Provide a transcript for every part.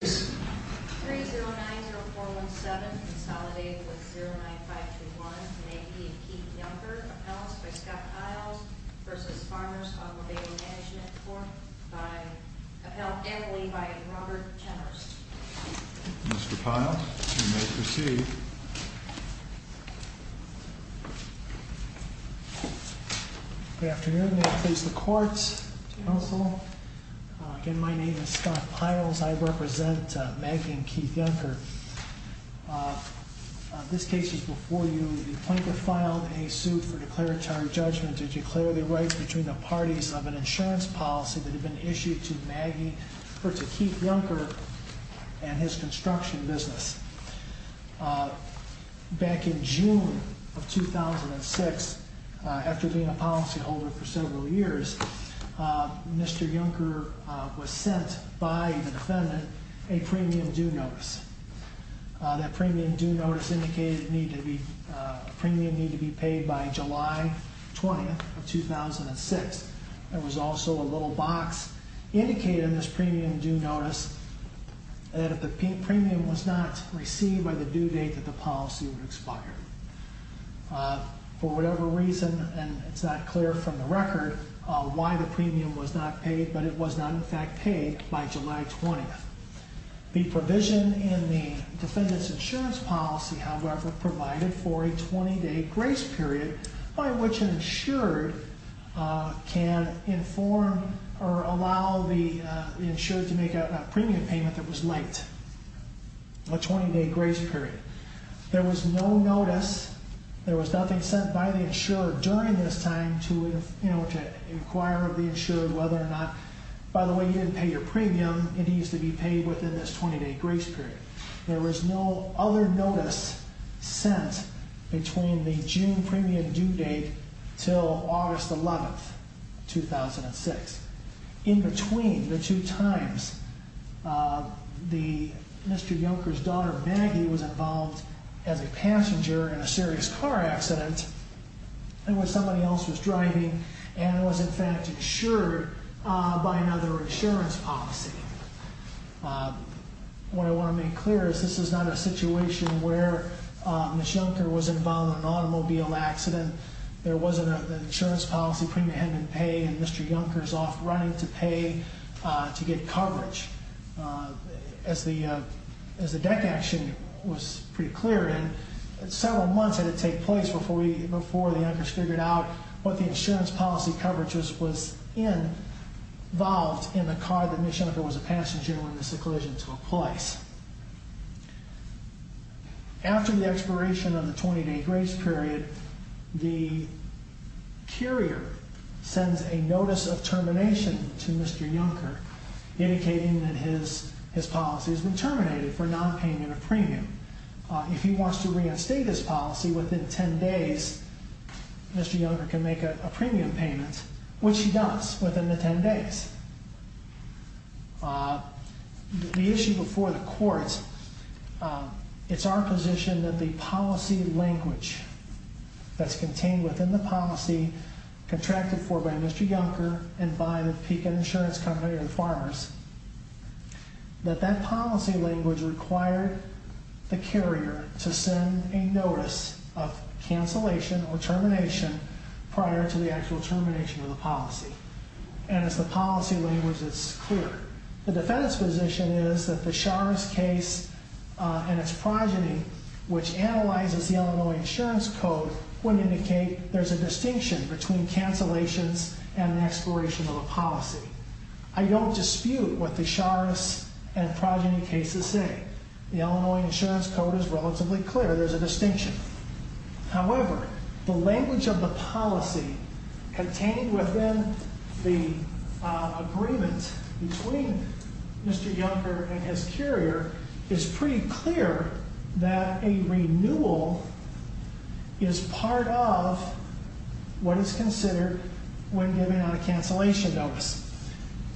3090417 consolidated with 09521 may be Keith Yunker, appellants by Scott Piles v. Farmers Automobile Management Corp. Appellant Emily by Robert Jenners. Mr. Piles, you may proceed. Good afternoon. May it please the courts, counsel. Again, my name is Scott Piles. I represent Maggie and Keith Yunker. This case is before you. The plaintiff filed a suit for declaratory judgment to declare the rights between the parties of an insurance policy that had been issued to Maggie, or to Keith Yunker, and his construction business. Back in June of 2006, after being a policyholder for several years, Mr. Yunker was sent by the defendant a premium due notice. That premium due notice indicated the premium needed to be paid by July 20th of 2006. There was also a little box indicated in this premium due notice that if the premium was not received by the due date that the policy would expire. For whatever reason, and it's not clear from the record why the premium was not paid, but it was not in fact paid by July 20th. The provision in the defendant's insurance policy, however, provided for a 20-day grace period by which an insured can inform or allow the insured to make a premium payment that was late. A 20-day grace period. There was no notice, there was nothing sent by the insured during this time to inquire of the insured whether or not, by the way, you didn't pay your premium, it needs to be paid within this 20-day grace period. There was no other notice sent between the June premium due date until August 11th, 2006. In between the two times, Mr. Junker's daughter Maggie was involved as a passenger in a serious car accident when somebody else was driving and was in fact insured by another insurance policy. What I want to make clear is this is not a situation where Ms. Junker was involved in an automobile accident. There wasn't an insurance policy premium hadn't been paid and Mr. Junker's off running to pay to get coverage. As the deck action was pretty clear, several months had to take place before the Junkers figured out what the insurance policy coverage was involved in the car that Ms. Junker was a passenger in when this collision took place. After the expiration of the 20-day grace period, the carrier sends a notice of termination to Mr. Junker indicating that his policy has been terminated for not paying a premium. If he wants to reinstate his policy within 10 days, Mr. Junker can make a premium payment, which he does within the 10 days. The issue before the court, it's our position that the policy language that's contained within the policy contracted for by Mr. Junker and by the Pecan Insurance Company and Farmers, that that policy language required the carrier to send a notice of cancellation or termination prior to the actual termination of the policy. And as the policy language is clear, the defense position is that the Shar's case and its progeny, which analyzes the Illinois Insurance Code, would indicate there's a distinction between cancellations and the expiration of a policy. I don't dispute what the Shar's and progeny cases say. The Illinois Insurance Code is relatively clear. There's a distinction. However, the language of the policy contained within the agreement between Mr. Junker and his carrier is pretty clear that a renewal is part of what is considered when giving out a cancellation notice.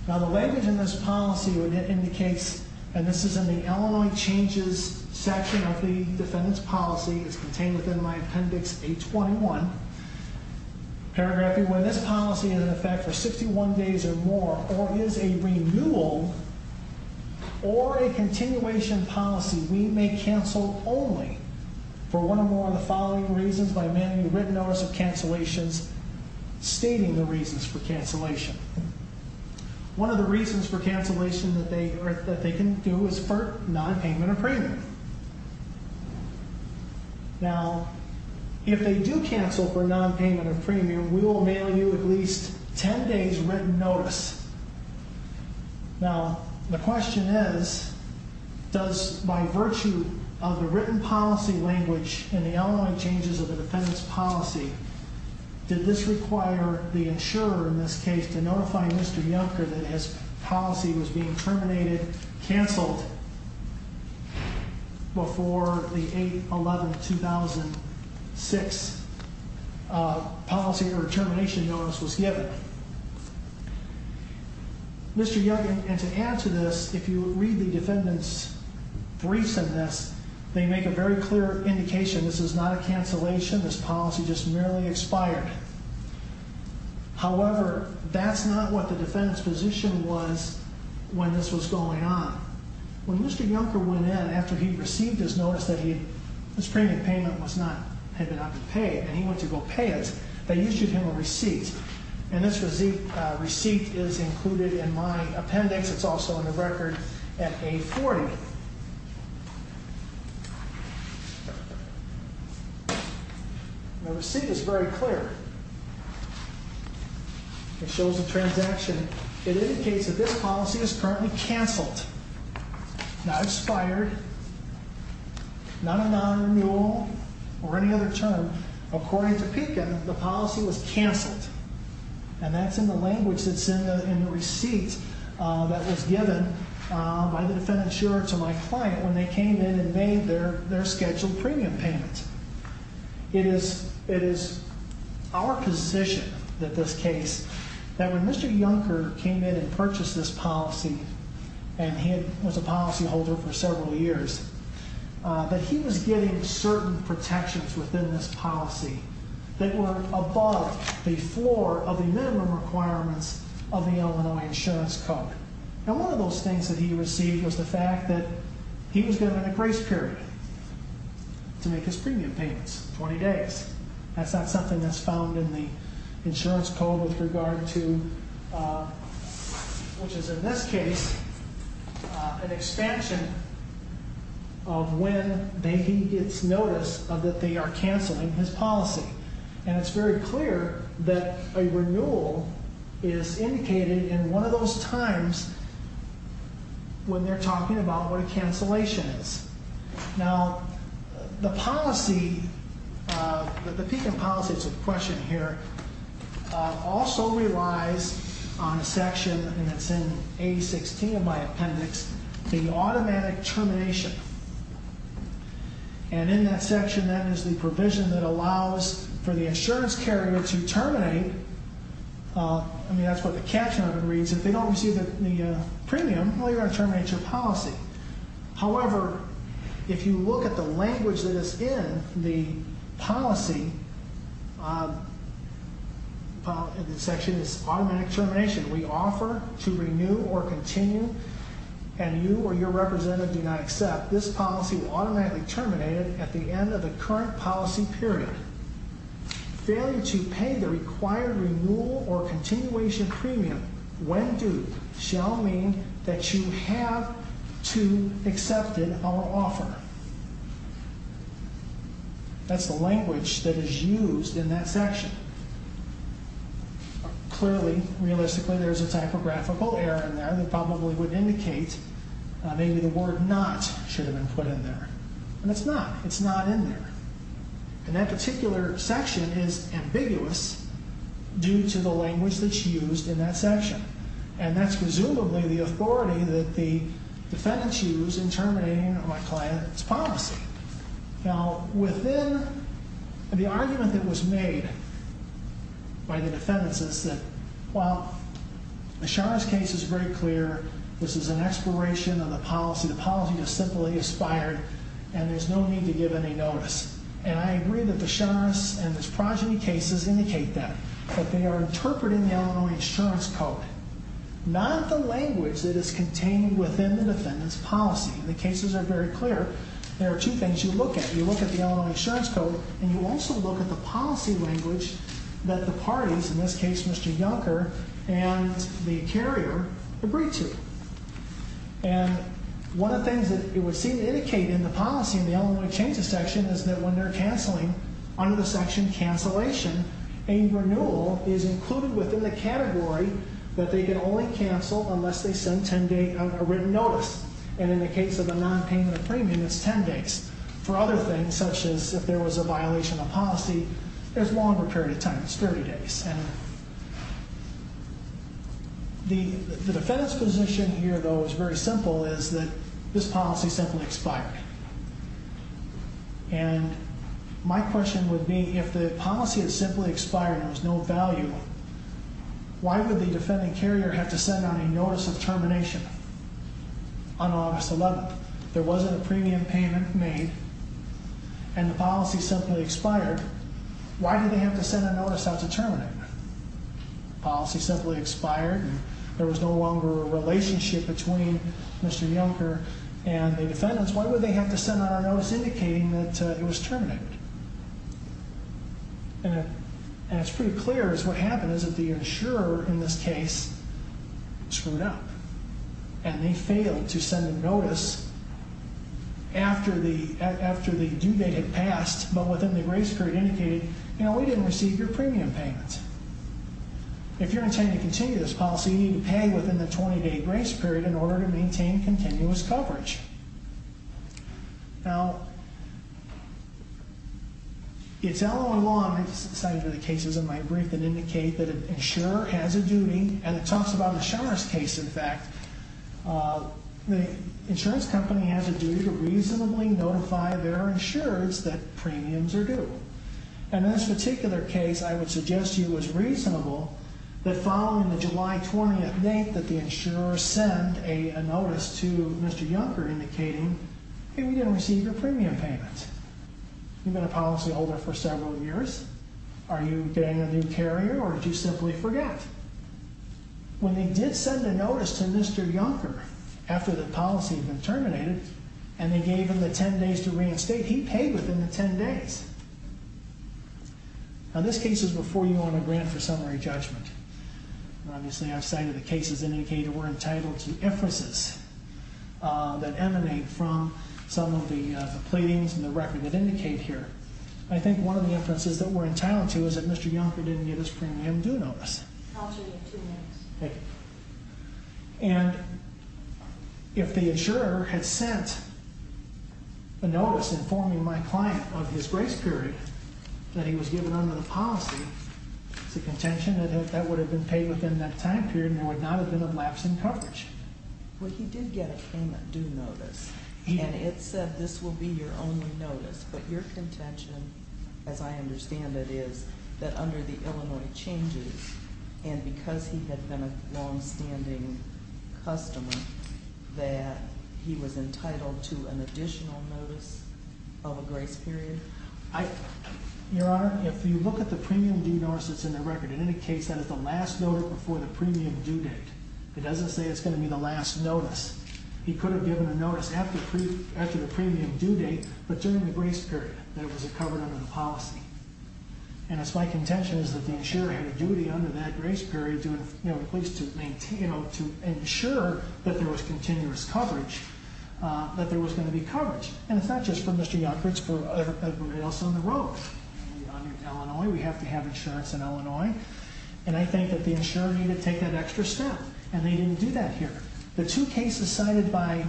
Now, the language in this policy indicates, and this is in the Illinois changes section of the defendant's policy. It's contained within my appendix 821, paragraphing when this policy is in effect for 61 days or more or is a renewal or a continuation policy, we may cancel only for one or more of the following reasons by mailing a written notice of cancellations stating the reasons for cancellation. One of the reasons for cancellation that they can do is for nonpayment of premium. Now, if they do cancel for nonpayment of premium, we will mail you at least 10 days written notice. Now, the question is, does by virtue of the written policy language in the Illinois changes of the defendant's policy, did this require the insurer in this case to notify Mr. Junker that his policy was being terminated, canceled before the 8-11-2006 policy or termination notice was given? Mr. Junker, and to add to this, if you read the defendant's briefs in this, they make a very clear indication this is not a cancellation. This policy just merely expired. However, that's not what the defendant's position was when this was going on. When Mr. Junker went in after he received his notice that his premium payment was not, had not been paid and he went to go pay it, they issued him a receipt, and this receipt is included in my appendix. It's also in the record at 840. The receipt is very clear. It shows the transaction. It indicates that this policy is currently canceled, not expired, not a non-renewal or any other term. According to Pekin, the policy was canceled, and that's in the language that's in the receipt that was given by the defendant's insurer to my client when they came in and made their scheduled premium payment. It is our position that this case, that when Mr. Junker came in and purchased this policy, and he was a policyholder for several years, that he was getting certain protections within this policy that were above the floor of the minimum requirements of the Illinois Insurance Code. And one of those things that he received was the fact that he was given a grace period to make his premium payments, 20 days. That's not something that's found in the insurance code with regard to, which is in this case, an expansion of when he gets notice that they are canceling his policy. And it's very clear that a renewal is indicated in one of those times when they're talking about what a cancellation is. Now, the policy, the Pekin policy, it's a question here, also relies on a section, and it's in A16 of my appendix, the automatic termination. And in that section, that is the provision that allows for the insurance carrier to terminate. I mean, that's what the caption of it reads. If they don't receive the premium, well, you're going to terminate your policy. However, if you look at the language that is in the policy, the section is automatic termination. We offer to renew or continue, and you or your representative do not accept. This policy will automatically terminate it at the end of the current policy period. Failure to pay the required renewal or continuation premium when due shall mean that you have to accept it or offer. That's the language that is used in that section. Clearly, realistically, there's a typographical error in there that probably would indicate maybe the word not should have been put in there. And it's not. It's not in there. And that particular section is ambiguous due to the language that's used in that section. And that's presumably the authority that the defendants use in terminating my client's policy. Now, within the argument that was made by the defendants is that, well, Ashar's case is very clear. This is an exploration of the policy. The policy is simply expired, and there's no need to give any notice. And I agree that Ashar's and his progeny cases indicate that. But they are interpreting the Illinois Insurance Code, not the language that is contained within the defendant's policy. The cases are very clear. There are two things you look at. You look at the Illinois Insurance Code, and you also look at the policy language that the parties, in this case Mr. Juncker and the carrier, agree to. And one of the things that it would seem to indicate in the policy in the Illinois changes section is that when they're canceling, under the section cancellation, a renewal is included within the category that they can only cancel unless they send a written notice. And in the case of a nonpayment of premium, it's 10 days. For other things, such as if there was a violation of policy, there's a longer period of time, it's 30 days. And the defendant's position here, though, is very simple, is that this policy simply expired. And my question would be, if the policy had simply expired and there was no value, why would the defending carrier have to send out a notice of termination on August 11th? If there wasn't a premium payment made and the policy simply expired, why did they have to send a notice out to terminate it? The policy simply expired and there was no longer a relationship between Mr. Juncker and the defendants. Why would they have to send out a notice indicating that it was terminated? And it's pretty clear that what happened is that the insurer, in this case, screwed up. And they failed to send a notice after the due date had passed, but within the grace period indicated, you know, we didn't receive your premium payment. If you're intending to continue this policy, you need to pay within the 20-day grace period in order to maintain continuous coverage. Now, it's LOA law, and I just cited the cases in my brief, that indicate that an insurer has a duty, and it talks about the Schumer's case, in fact. The insurance company has a duty to reasonably notify their insurers that premiums are due. And in this particular case, I would suggest to you it was reasonable that following the July 20th date that the insurer sent a notice to Mr. Juncker indicating, hey, we didn't receive your premium payment. You've been a policyholder for several years. Are you getting a new carrier, or did you simply forget? When they did send a notice to Mr. Juncker after the policy had been terminated, and they gave him the 10 days to reinstate, he paid within the 10 days. Now, this case is before you on a grant for summary judgment. Obviously, I've cited the cases indicating we're entitled to inferences that emanate from some of the pleadings and the record that indicate here. I think one of the inferences that we're entitled to is that Mr. Juncker didn't get his premium due notice. I'll give you two minutes. Thank you. And if the insurer had sent a notice informing my client of his grace period that he was given under the policy, it's a contention that that would have been paid within that time period, and there would not have been a lapse in coverage. Well, he did get a premium due notice, and it said this will be your only notice. But your contention, as I understand it, is that under the Illinois changes, and because he had been a longstanding customer, that he was entitled to an additional notice of a grace period? Your Honor, if you look at the premium due notice that's in the record, in any case, that is the last note before the premium due date. It doesn't say it's going to be the last notice. He could have given a notice after the premium due date, but during the grace period that it was covered under the policy. And it's my contention that the insurer had a duty under that grace period to ensure that there was continuous coverage, that there was going to be coverage. And it's not just for Mr. Juncker, it's for everybody else on the road. We have to have insurance in Illinois, and I think that the insurer needed to take that extra step, and they didn't do that here. The two cases cited by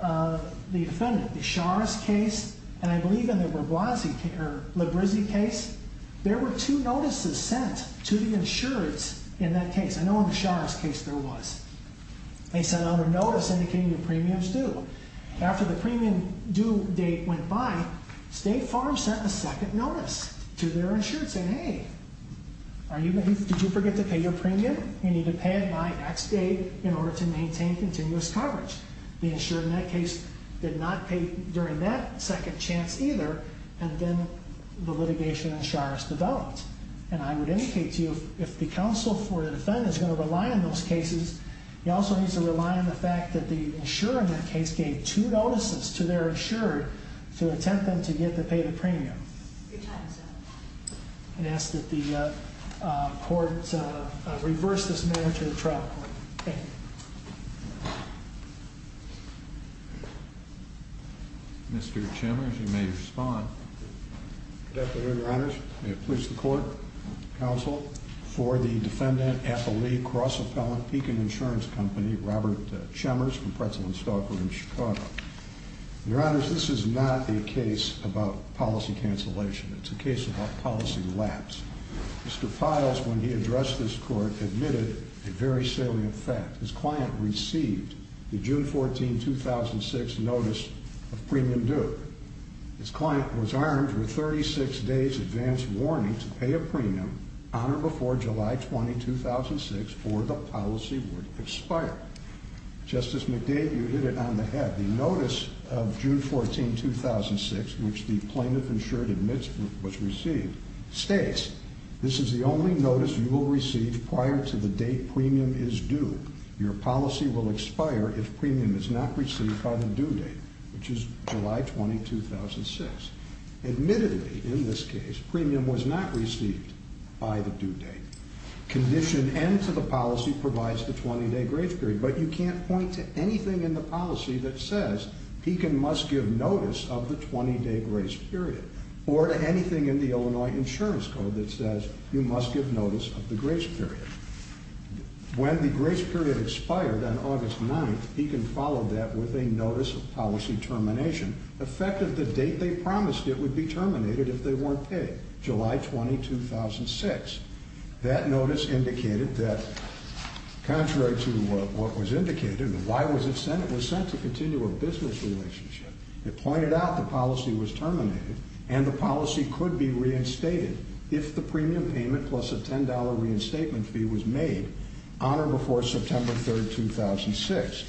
the defendant, the Schar's case, and I believe in the Lebrizzi case, there were two notices sent to the insurance in that case. I know in the Schar's case there was. They sent out a notice indicating the premium's due. After the premium due date went by, State Farm sent a second notice to their insurance saying, Did you forget to pay your premium? You need to pay it by next day in order to maintain continuous coverage. The insurer in that case did not pay during that second chance either, and then the litigation in Schar's developed. And I would indicate to you, if the counsel for the defendant is going to rely on those cases, he also needs to rely on the fact that the insurer in that case gave two notices to their insurer to attempt them to get to pay the premium. Your time is up. I ask that the court reverse this matter to the trial court. Thank you. Mr. Chemers, you may respond. Thank you, Your Honors. May it please the court. Counsel for the defendant, Apple Lee Cross Appellant, Pekin Insurance Company, Robert Chemers from Pretzel and Stalker in Chicago. Your Honors, this is not a case about policy cancellation. It's a case about policy lapse. Mr. Piles, when he addressed this court, admitted a very salient fact. His client received the June 14, 2006 notice of premium due. His client was armed with 36 days advance warning to pay a premium on or before July 20, 2006 or the policy would expire. Justice McDade, you hit it on the head. The notice of June 14, 2006, which the plaintiff insured admits was received, states, this is the only notice you will receive prior to the date premium is due. Your policy will expire if premium is not received by the due date, which is July 20, 2006. Admittedly, in this case, premium was not received by the due date. Condition N to the policy provides the 20-day grace period. But you can't point to anything in the policy that says Pekin must give notice of the 20-day grace period or to anything in the Illinois Insurance Code that says you must give notice of the grace period. When the grace period expired on August 9, Pekin followed that with a notice of policy termination, effective the date they promised it would be terminated if they weren't paid, July 20, 2006. That notice indicated that contrary to what was indicated, why was it sent? It was sent to continue a business relationship. It pointed out the policy was terminated and the policy could be reinstated if the premium payment plus a $10 reinstatement fee was made on or before September 3, 2006.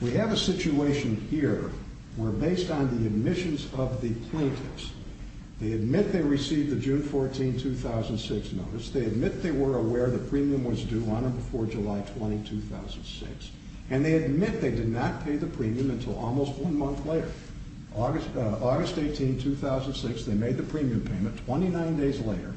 We have a situation here where based on the admissions of the plaintiffs, they admit they received the June 14, 2006 notice. They admit they were aware the premium was due on or before July 20, 2006. And they admit they did not pay the premium until almost one month later, August 18, 2006. They made the premium payment 29 days later,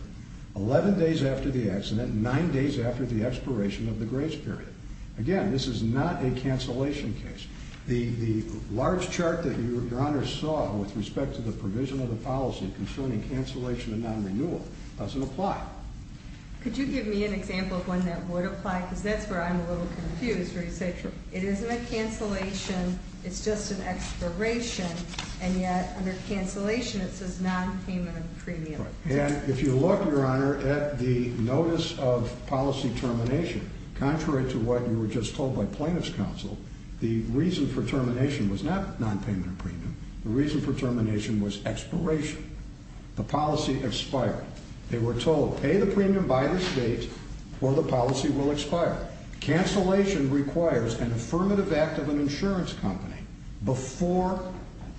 11 days after the accident, nine days after the expiration of the grace period. Again, this is not a cancellation case. The large chart that Your Honor saw with respect to the provision of the policy concerning cancellation and non-renewal doesn't apply. Could you give me an example of one that would apply? Because that's where I'm a little confused where you say it isn't a cancellation, it's just an expiration, and yet under cancellation it says non-payment of premium. And if you look, Your Honor, at the notice of policy termination, contrary to what you were just told by plaintiff's counsel, the reason for termination was not non-payment of premium. The reason for termination was expiration. The policy expired. They were told pay the premium by this date or the policy will expire. Cancellation requires an affirmative act of an insurance company before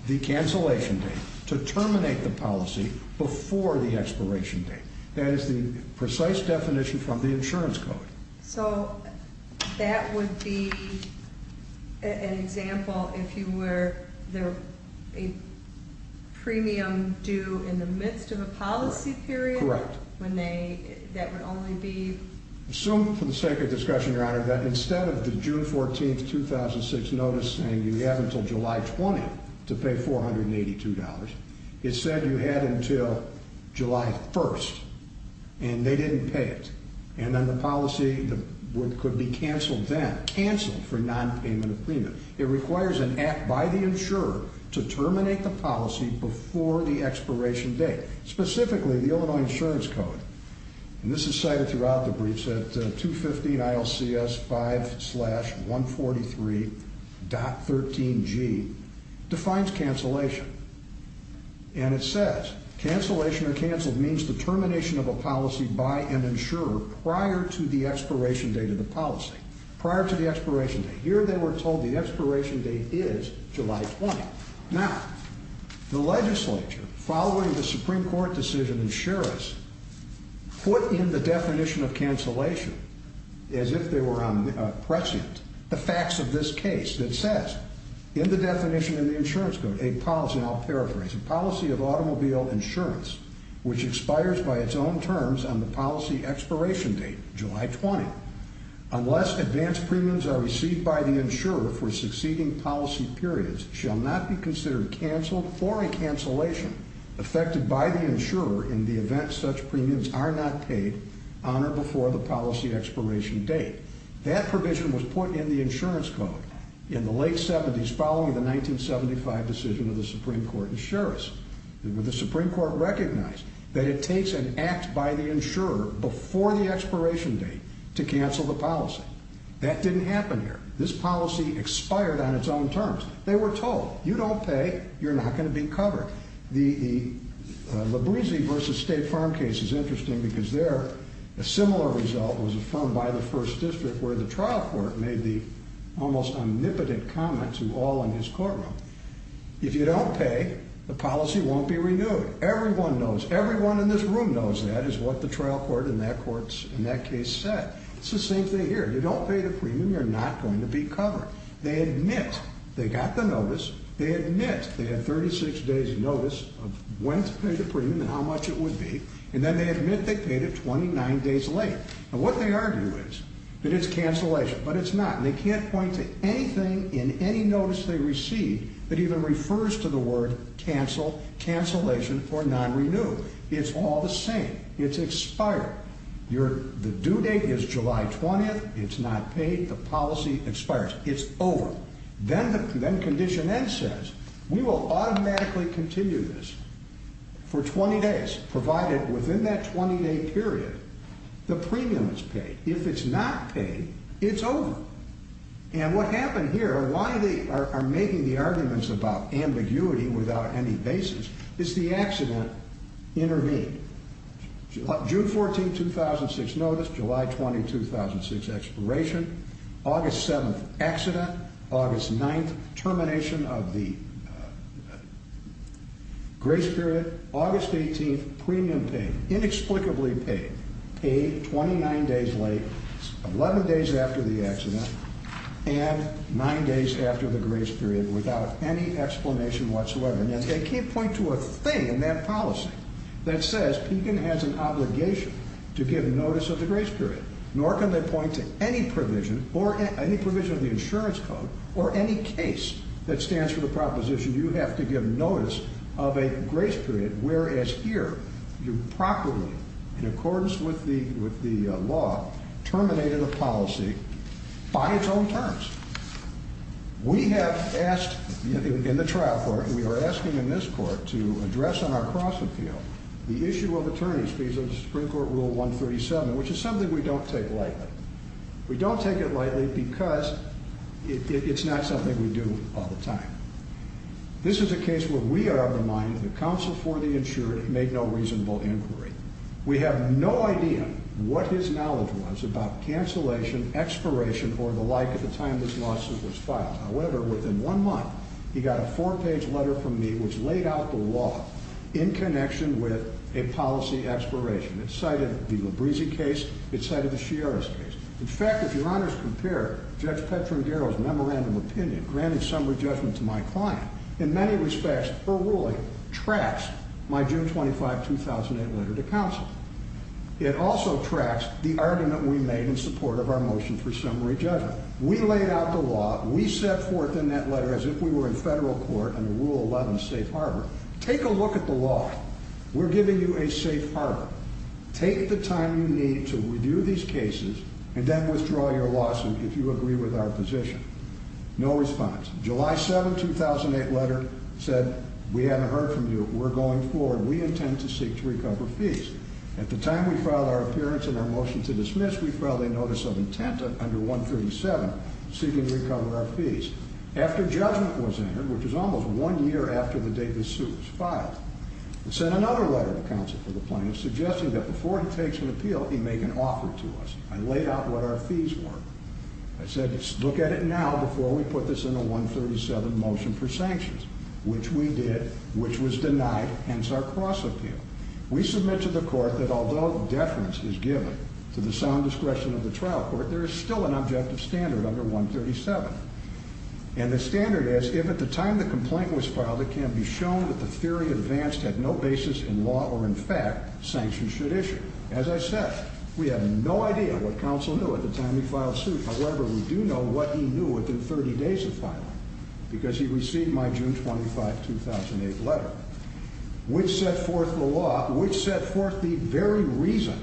the cancellation date to terminate the policy before the expiration date. That is the precise definition from the insurance code. So that would be an example if you were a premium due in the midst of a policy period? Correct. That would only be? Assumed for the sake of discussion, Your Honor, that instead of the June 14, 2006 notice saying you have until July 20 to pay $482, it said you had until July 1, and they didn't pay it. And then the policy could be canceled then. Canceled for non-payment of premium. It requires an act by the insurer to terminate the policy before the expiration date. Specifically, the Illinois Insurance Code, and this is cited throughout the briefs at 215 ILCS 5-143.13G, defines cancellation. And it says cancellation or canceled means the termination of a policy by an insurer prior to the expiration date of the policy. Prior to the expiration date. Here they were told the expiration date is July 20. Now, the legislature, following the Supreme Court decision, and sheriffs put in the definition of cancellation, as if they were on prescient, the facts of this case that says, in the definition of the insurance code, a policy, and I'll paraphrase, a policy of automobile insurance, which expires by its own terms on the policy expiration date, July 20, unless advanced premiums are received by the insurer for succeeding policy periods, shall not be considered canceled or a cancellation affected by the insurer in the event such premiums are not paid on or before the policy expiration date. That provision was put in the insurance code in the late 70s, following the 1975 decision of the Supreme Court and sheriffs. The Supreme Court recognized that it takes an act by the insurer before the expiration date to cancel the policy. That didn't happen here. This policy expired on its own terms. They were told, you don't pay, you're not going to be covered. The Labrise versus State Farm case is interesting because there, a similar result was affirmed by the First District, where the trial court made the almost omnipotent comment to all in his courtroom. If you don't pay, the policy won't be renewed. Everyone knows. Everyone in this room knows that is what the trial court in that case said. It's the same thing here. You don't pay the premium, you're not going to be covered. They admit they got the notice. They admit they had 36 days' notice of when to pay the premium and how much it would be, and then they admit they paid it 29 days later. And what they argue is that it's cancellation, but it's not, and they can't point to anything in any notice they received that even refers to the word cancel, cancellation, or non-renew. It's all the same. It's expired. The due date is July 20th. It's not paid. The policy expires. It's over. Then Condition N says, We will automatically continue this for 20 days, provided within that 20-day period the premium is paid. If it's not paid, it's over. And what happened here, why they are making the arguments about ambiguity without any basis, is the accident intervened. June 14, 2006 notice, July 20, 2006 expiration, August 7, accident, August 9, termination of the grace period, August 18, premium paid, inexplicably paid, paid 29 days late, 11 days after the accident, and 9 days after the grace period without any explanation whatsoever. And they can't point to a thing in that policy that says Pekin has an obligation to give notice of the grace period, nor can they point to any provision or any provision of the insurance code or any case that stands for the proposition you have to give notice of a grace period, whereas here you properly, in accordance with the law, terminated a policy by its own terms. We have asked in the trial court, and we are asking in this court to address on our cross-appeal the issue of attorneys' fees under Supreme Court Rule 137, which is something we don't take lightly. We don't take it lightly because it's not something we do all the time. This is a case where we are of the mind that counsel for the insured made no reasonable inquiry. We have no idea what his knowledge was about cancellation, expiration, or the like at the time this lawsuit was filed. However, within one month, he got a four-page letter from me which laid out the law in connection with a policy expiration. It cited the Librisi case. It cited the Sciarris case. In fact, if your honors compare Judge Petra and Garrow's memorandum of opinion, granted summary judgment to my client, in many respects, her ruling tracks my June 25, 2008 letter to counsel. It also tracks the argument we made in support of our motion for summary judgment. We laid out the law. We set forth in that letter as if we were in federal court under Rule 11, safe harbor. Take a look at the law. We're giving you a safe harbor. Take the time you need to review these cases and then withdraw your lawsuit if you agree with our position. No response. July 7, 2008 letter said, we haven't heard from you. We're going forward. We intend to seek to recover fees. At the time we filed our appearance and our motion to dismiss, we filed a notice of intent under 137 seeking to recover our fees. After judgment was entered, which is almost one year after the date this suit was filed, it sent another letter to counsel for the plaintiff suggesting that before he takes an appeal, he make an offer to us. I laid out what our fees were. I said, look at it now before we put this in a 137 motion for sanctions, which we did, which was denied, hence our cross-appeal. We submit to the court that although deference is given to the sound discretion of the trial court, there is still an objective standard under 137. And the standard is if at the time the complaint was filed, it can be shown that the theory advanced had no basis in law or in fact sanctions should issue. As I said, we have no idea what counsel knew at the time he filed suit. However, we do know what he knew within 30 days of filing because he received my June 25, 2008 letter. Which set forth the law, which set forth the very reason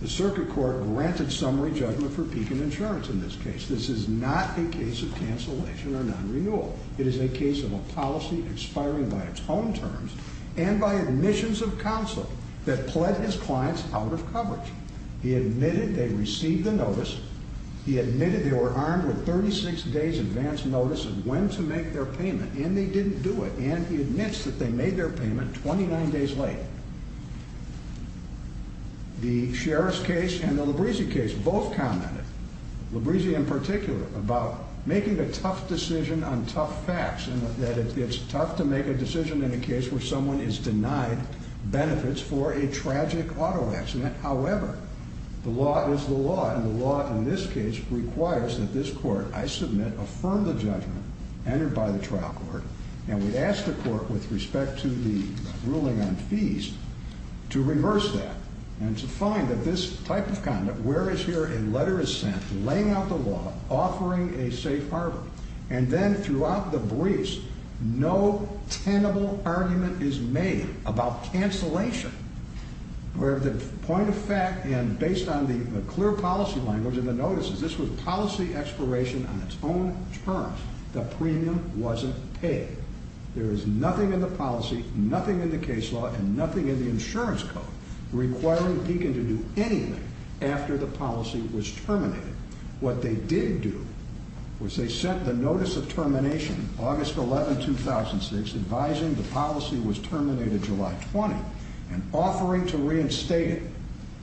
the circuit court granted summary judgment for peak and insurance in this case. This is not a case of cancellation or non-renewal. It is a case of a policy expiring by its own terms and by admissions of counsel that pled his clients out of coverage. He admitted they received the notice. He admitted they were armed with 36 days advance notice of when to make their payment and they didn't do it. And he admits that they made their payment 29 days late. The Sheriff's case and the Librisi case both commented, Librisi in particular, about making a tough decision on tough facts. And that it's tough to make a decision in a case where someone is denied benefits for a tragic auto accident. However, the law is the law and the law in this case requires that this court, I submit, affirm the judgment entered by the trial court. And we ask the court with respect to the ruling on fees to reverse that. And to find that this type of conduct, where is here a letter is sent laying out the law, offering a safe harbor. And then throughout the briefs, no tenable argument is made about cancellation. However, the point of fact, and based on the clear policy language in the notices, this was policy expiration on its own terms. The premium wasn't paid. There is nothing in the policy, nothing in the case law, and nothing in the insurance code requiring Deakin to do anything after the policy was terminated. What they did do was they sent the notice of termination, August 11, 2006, advising the policy was terminated July 20. And offering to reinstate it,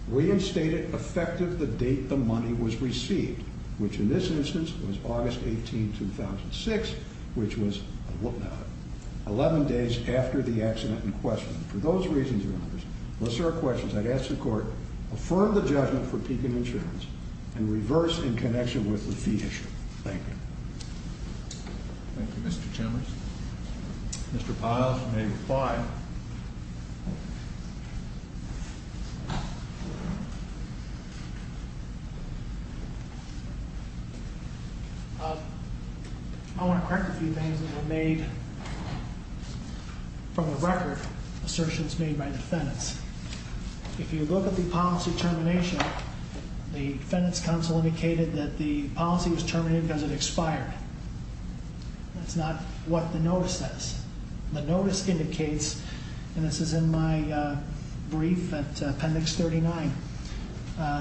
reinstate it effective the date the money was received. Which in this instance was August 18, 2006, which was 11 days after the accident in question. For those reasons, your honors, unless there are questions, I'd ask the court, affirm the judgment for Deakin Insurance, and reverse in connection with the fee issue. Thank you. Thank you, Mr. Chambers. Mr. Piles, you may reply. I want to correct a few things that were made from the record, assertions made by defendants. If you look at the policy termination, the defendant's counsel indicated that the policy was terminated because it expired. That's not what the notice says. The notice indicates, and this is in my brief at appendix 39,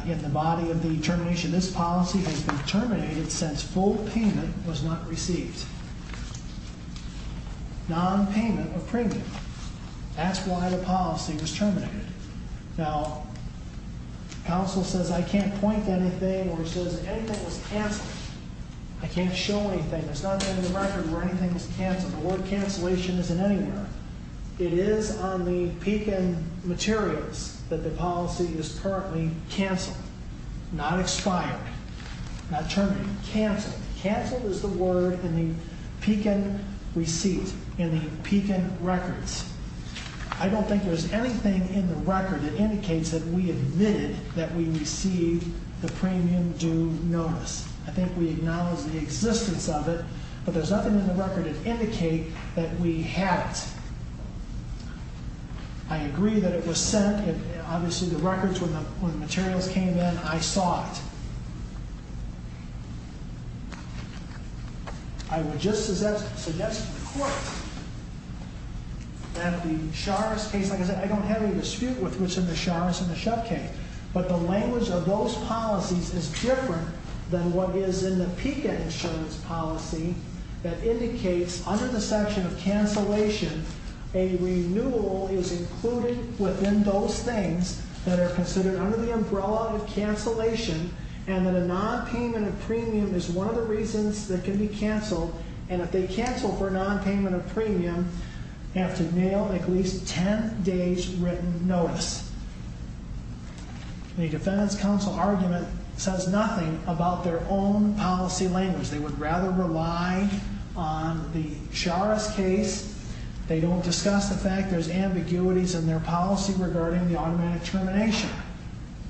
in the body of the termination, this policy has been terminated since full payment was not received. Non-payment of premium. That's why the policy was terminated. Now, counsel says I can't point to anything where it says anything was canceled. I can't show anything. There's nothing in the record where anything was canceled. The word cancellation isn't anywhere. It is on the Deakin materials that the policy is currently canceled, not expired, not terminated. Canceled. Canceled is the word in the Deakin receipt, in the Deakin records. I don't think there's anything in the record that indicates that we admitted that we received the premium due notice. I think we acknowledge the existence of it, but there's nothing in the record that indicates that we had it. I agree that it was sent. Obviously, the records, when the materials came in, I saw it. I would just suggest to the court that the Sharris case, like I said, I don't have any dispute with which of the Sharris and the Shep case, but the language of those policies is different than what is in the PICA insurance policy that indicates under the section of cancellation, a renewal is included within those things that are considered under the umbrella of cancellation, and that a nonpayment of premium is one of the reasons that can be canceled, and if they cancel for a nonpayment of premium, they have to mail at least 10 days' written notice. The defendant's counsel argument says nothing about their own policy language. They would rather rely on the Sharris case. They don't discuss the fact there's ambiguities in their policy regarding the automatic termination.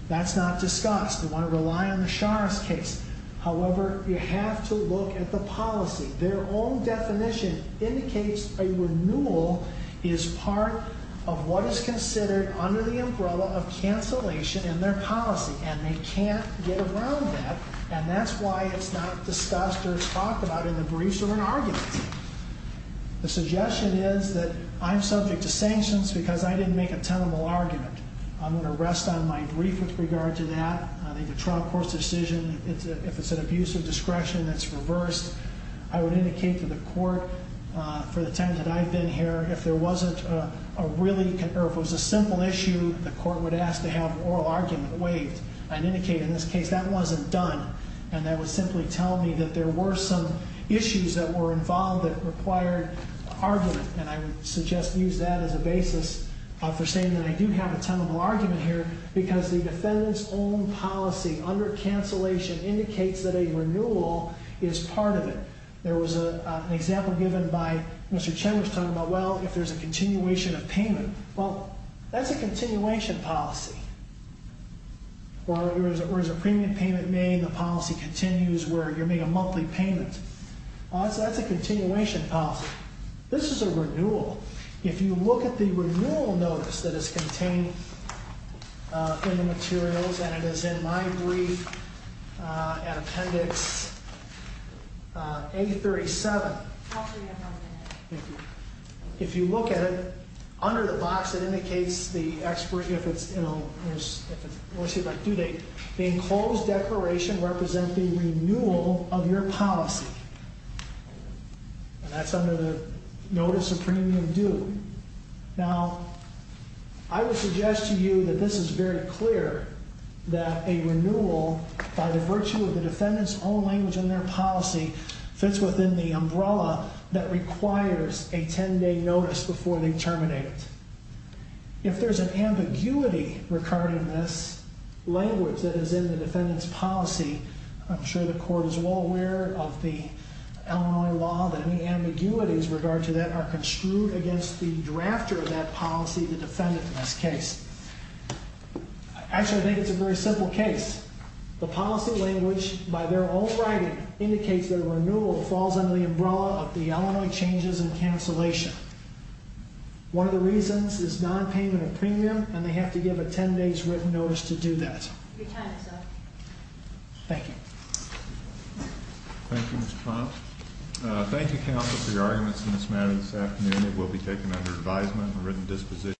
That's not discussed. They want to rely on the Sharris case. However, you have to look at the policy. Their own definition indicates a renewal is part of what is considered under the umbrella of cancellation in their policy, and they can't get around that, and that's why it's not discussed or talked about in the briefs or in arguments. The suggestion is that I'm subject to sanctions because I didn't make a tenable argument. I'm going to rest on my brief with regard to that. I think the trial court's decision, if it's an abuse of discretion, that's reversed. I would indicate to the court for the time that I've been here, if there wasn't a really or if it was a simple issue, the court would ask to have an oral argument waived and indicate in this case that wasn't done, and that would simply tell me that there were some issues that were involved that required argument, and I would suggest use that as a basis for saying that I do have a tenable argument here because the defendant's own policy under cancellation indicates that a renewal is part of it. There was an example given by Mr. Chen was talking about, well, if there's a continuation of payment. Well, that's a continuation policy, where there's a premium payment made, the policy continues, where you're making a monthly payment. That's a continuation policy. This is a renewal. If you look at the renewal notice that is contained in the materials, and it is in my brief at Appendix A37, if you look at it, under the box, it indicates the enclosed declaration represents the renewal of your policy. And that's under the notice of premium due. Now, I would suggest to you that this is very clear, that a renewal by the virtue of the defendant's own language in their policy fits within the umbrella that requires a ten-day notice before they terminate. If there's an ambiguity regarding this language that is in the defendant's policy, I'm sure the court is well aware of the Illinois law, that any ambiguities with regard to that are construed against the drafter of that policy, the defendant in this case. Actually, I think it's a very simple case. The policy language by their own writing indicates that a renewal falls under the umbrella of the Illinois changes and cancellation. One of the reasons is non-payment of premium, and they have to give a ten-day written notice to do that. Your time is up. Thank you. Thank you, Mr. Ponce. Thank you, counsel, for your arguments in this matter this afternoon. It will be taken under advisement and a written disposition.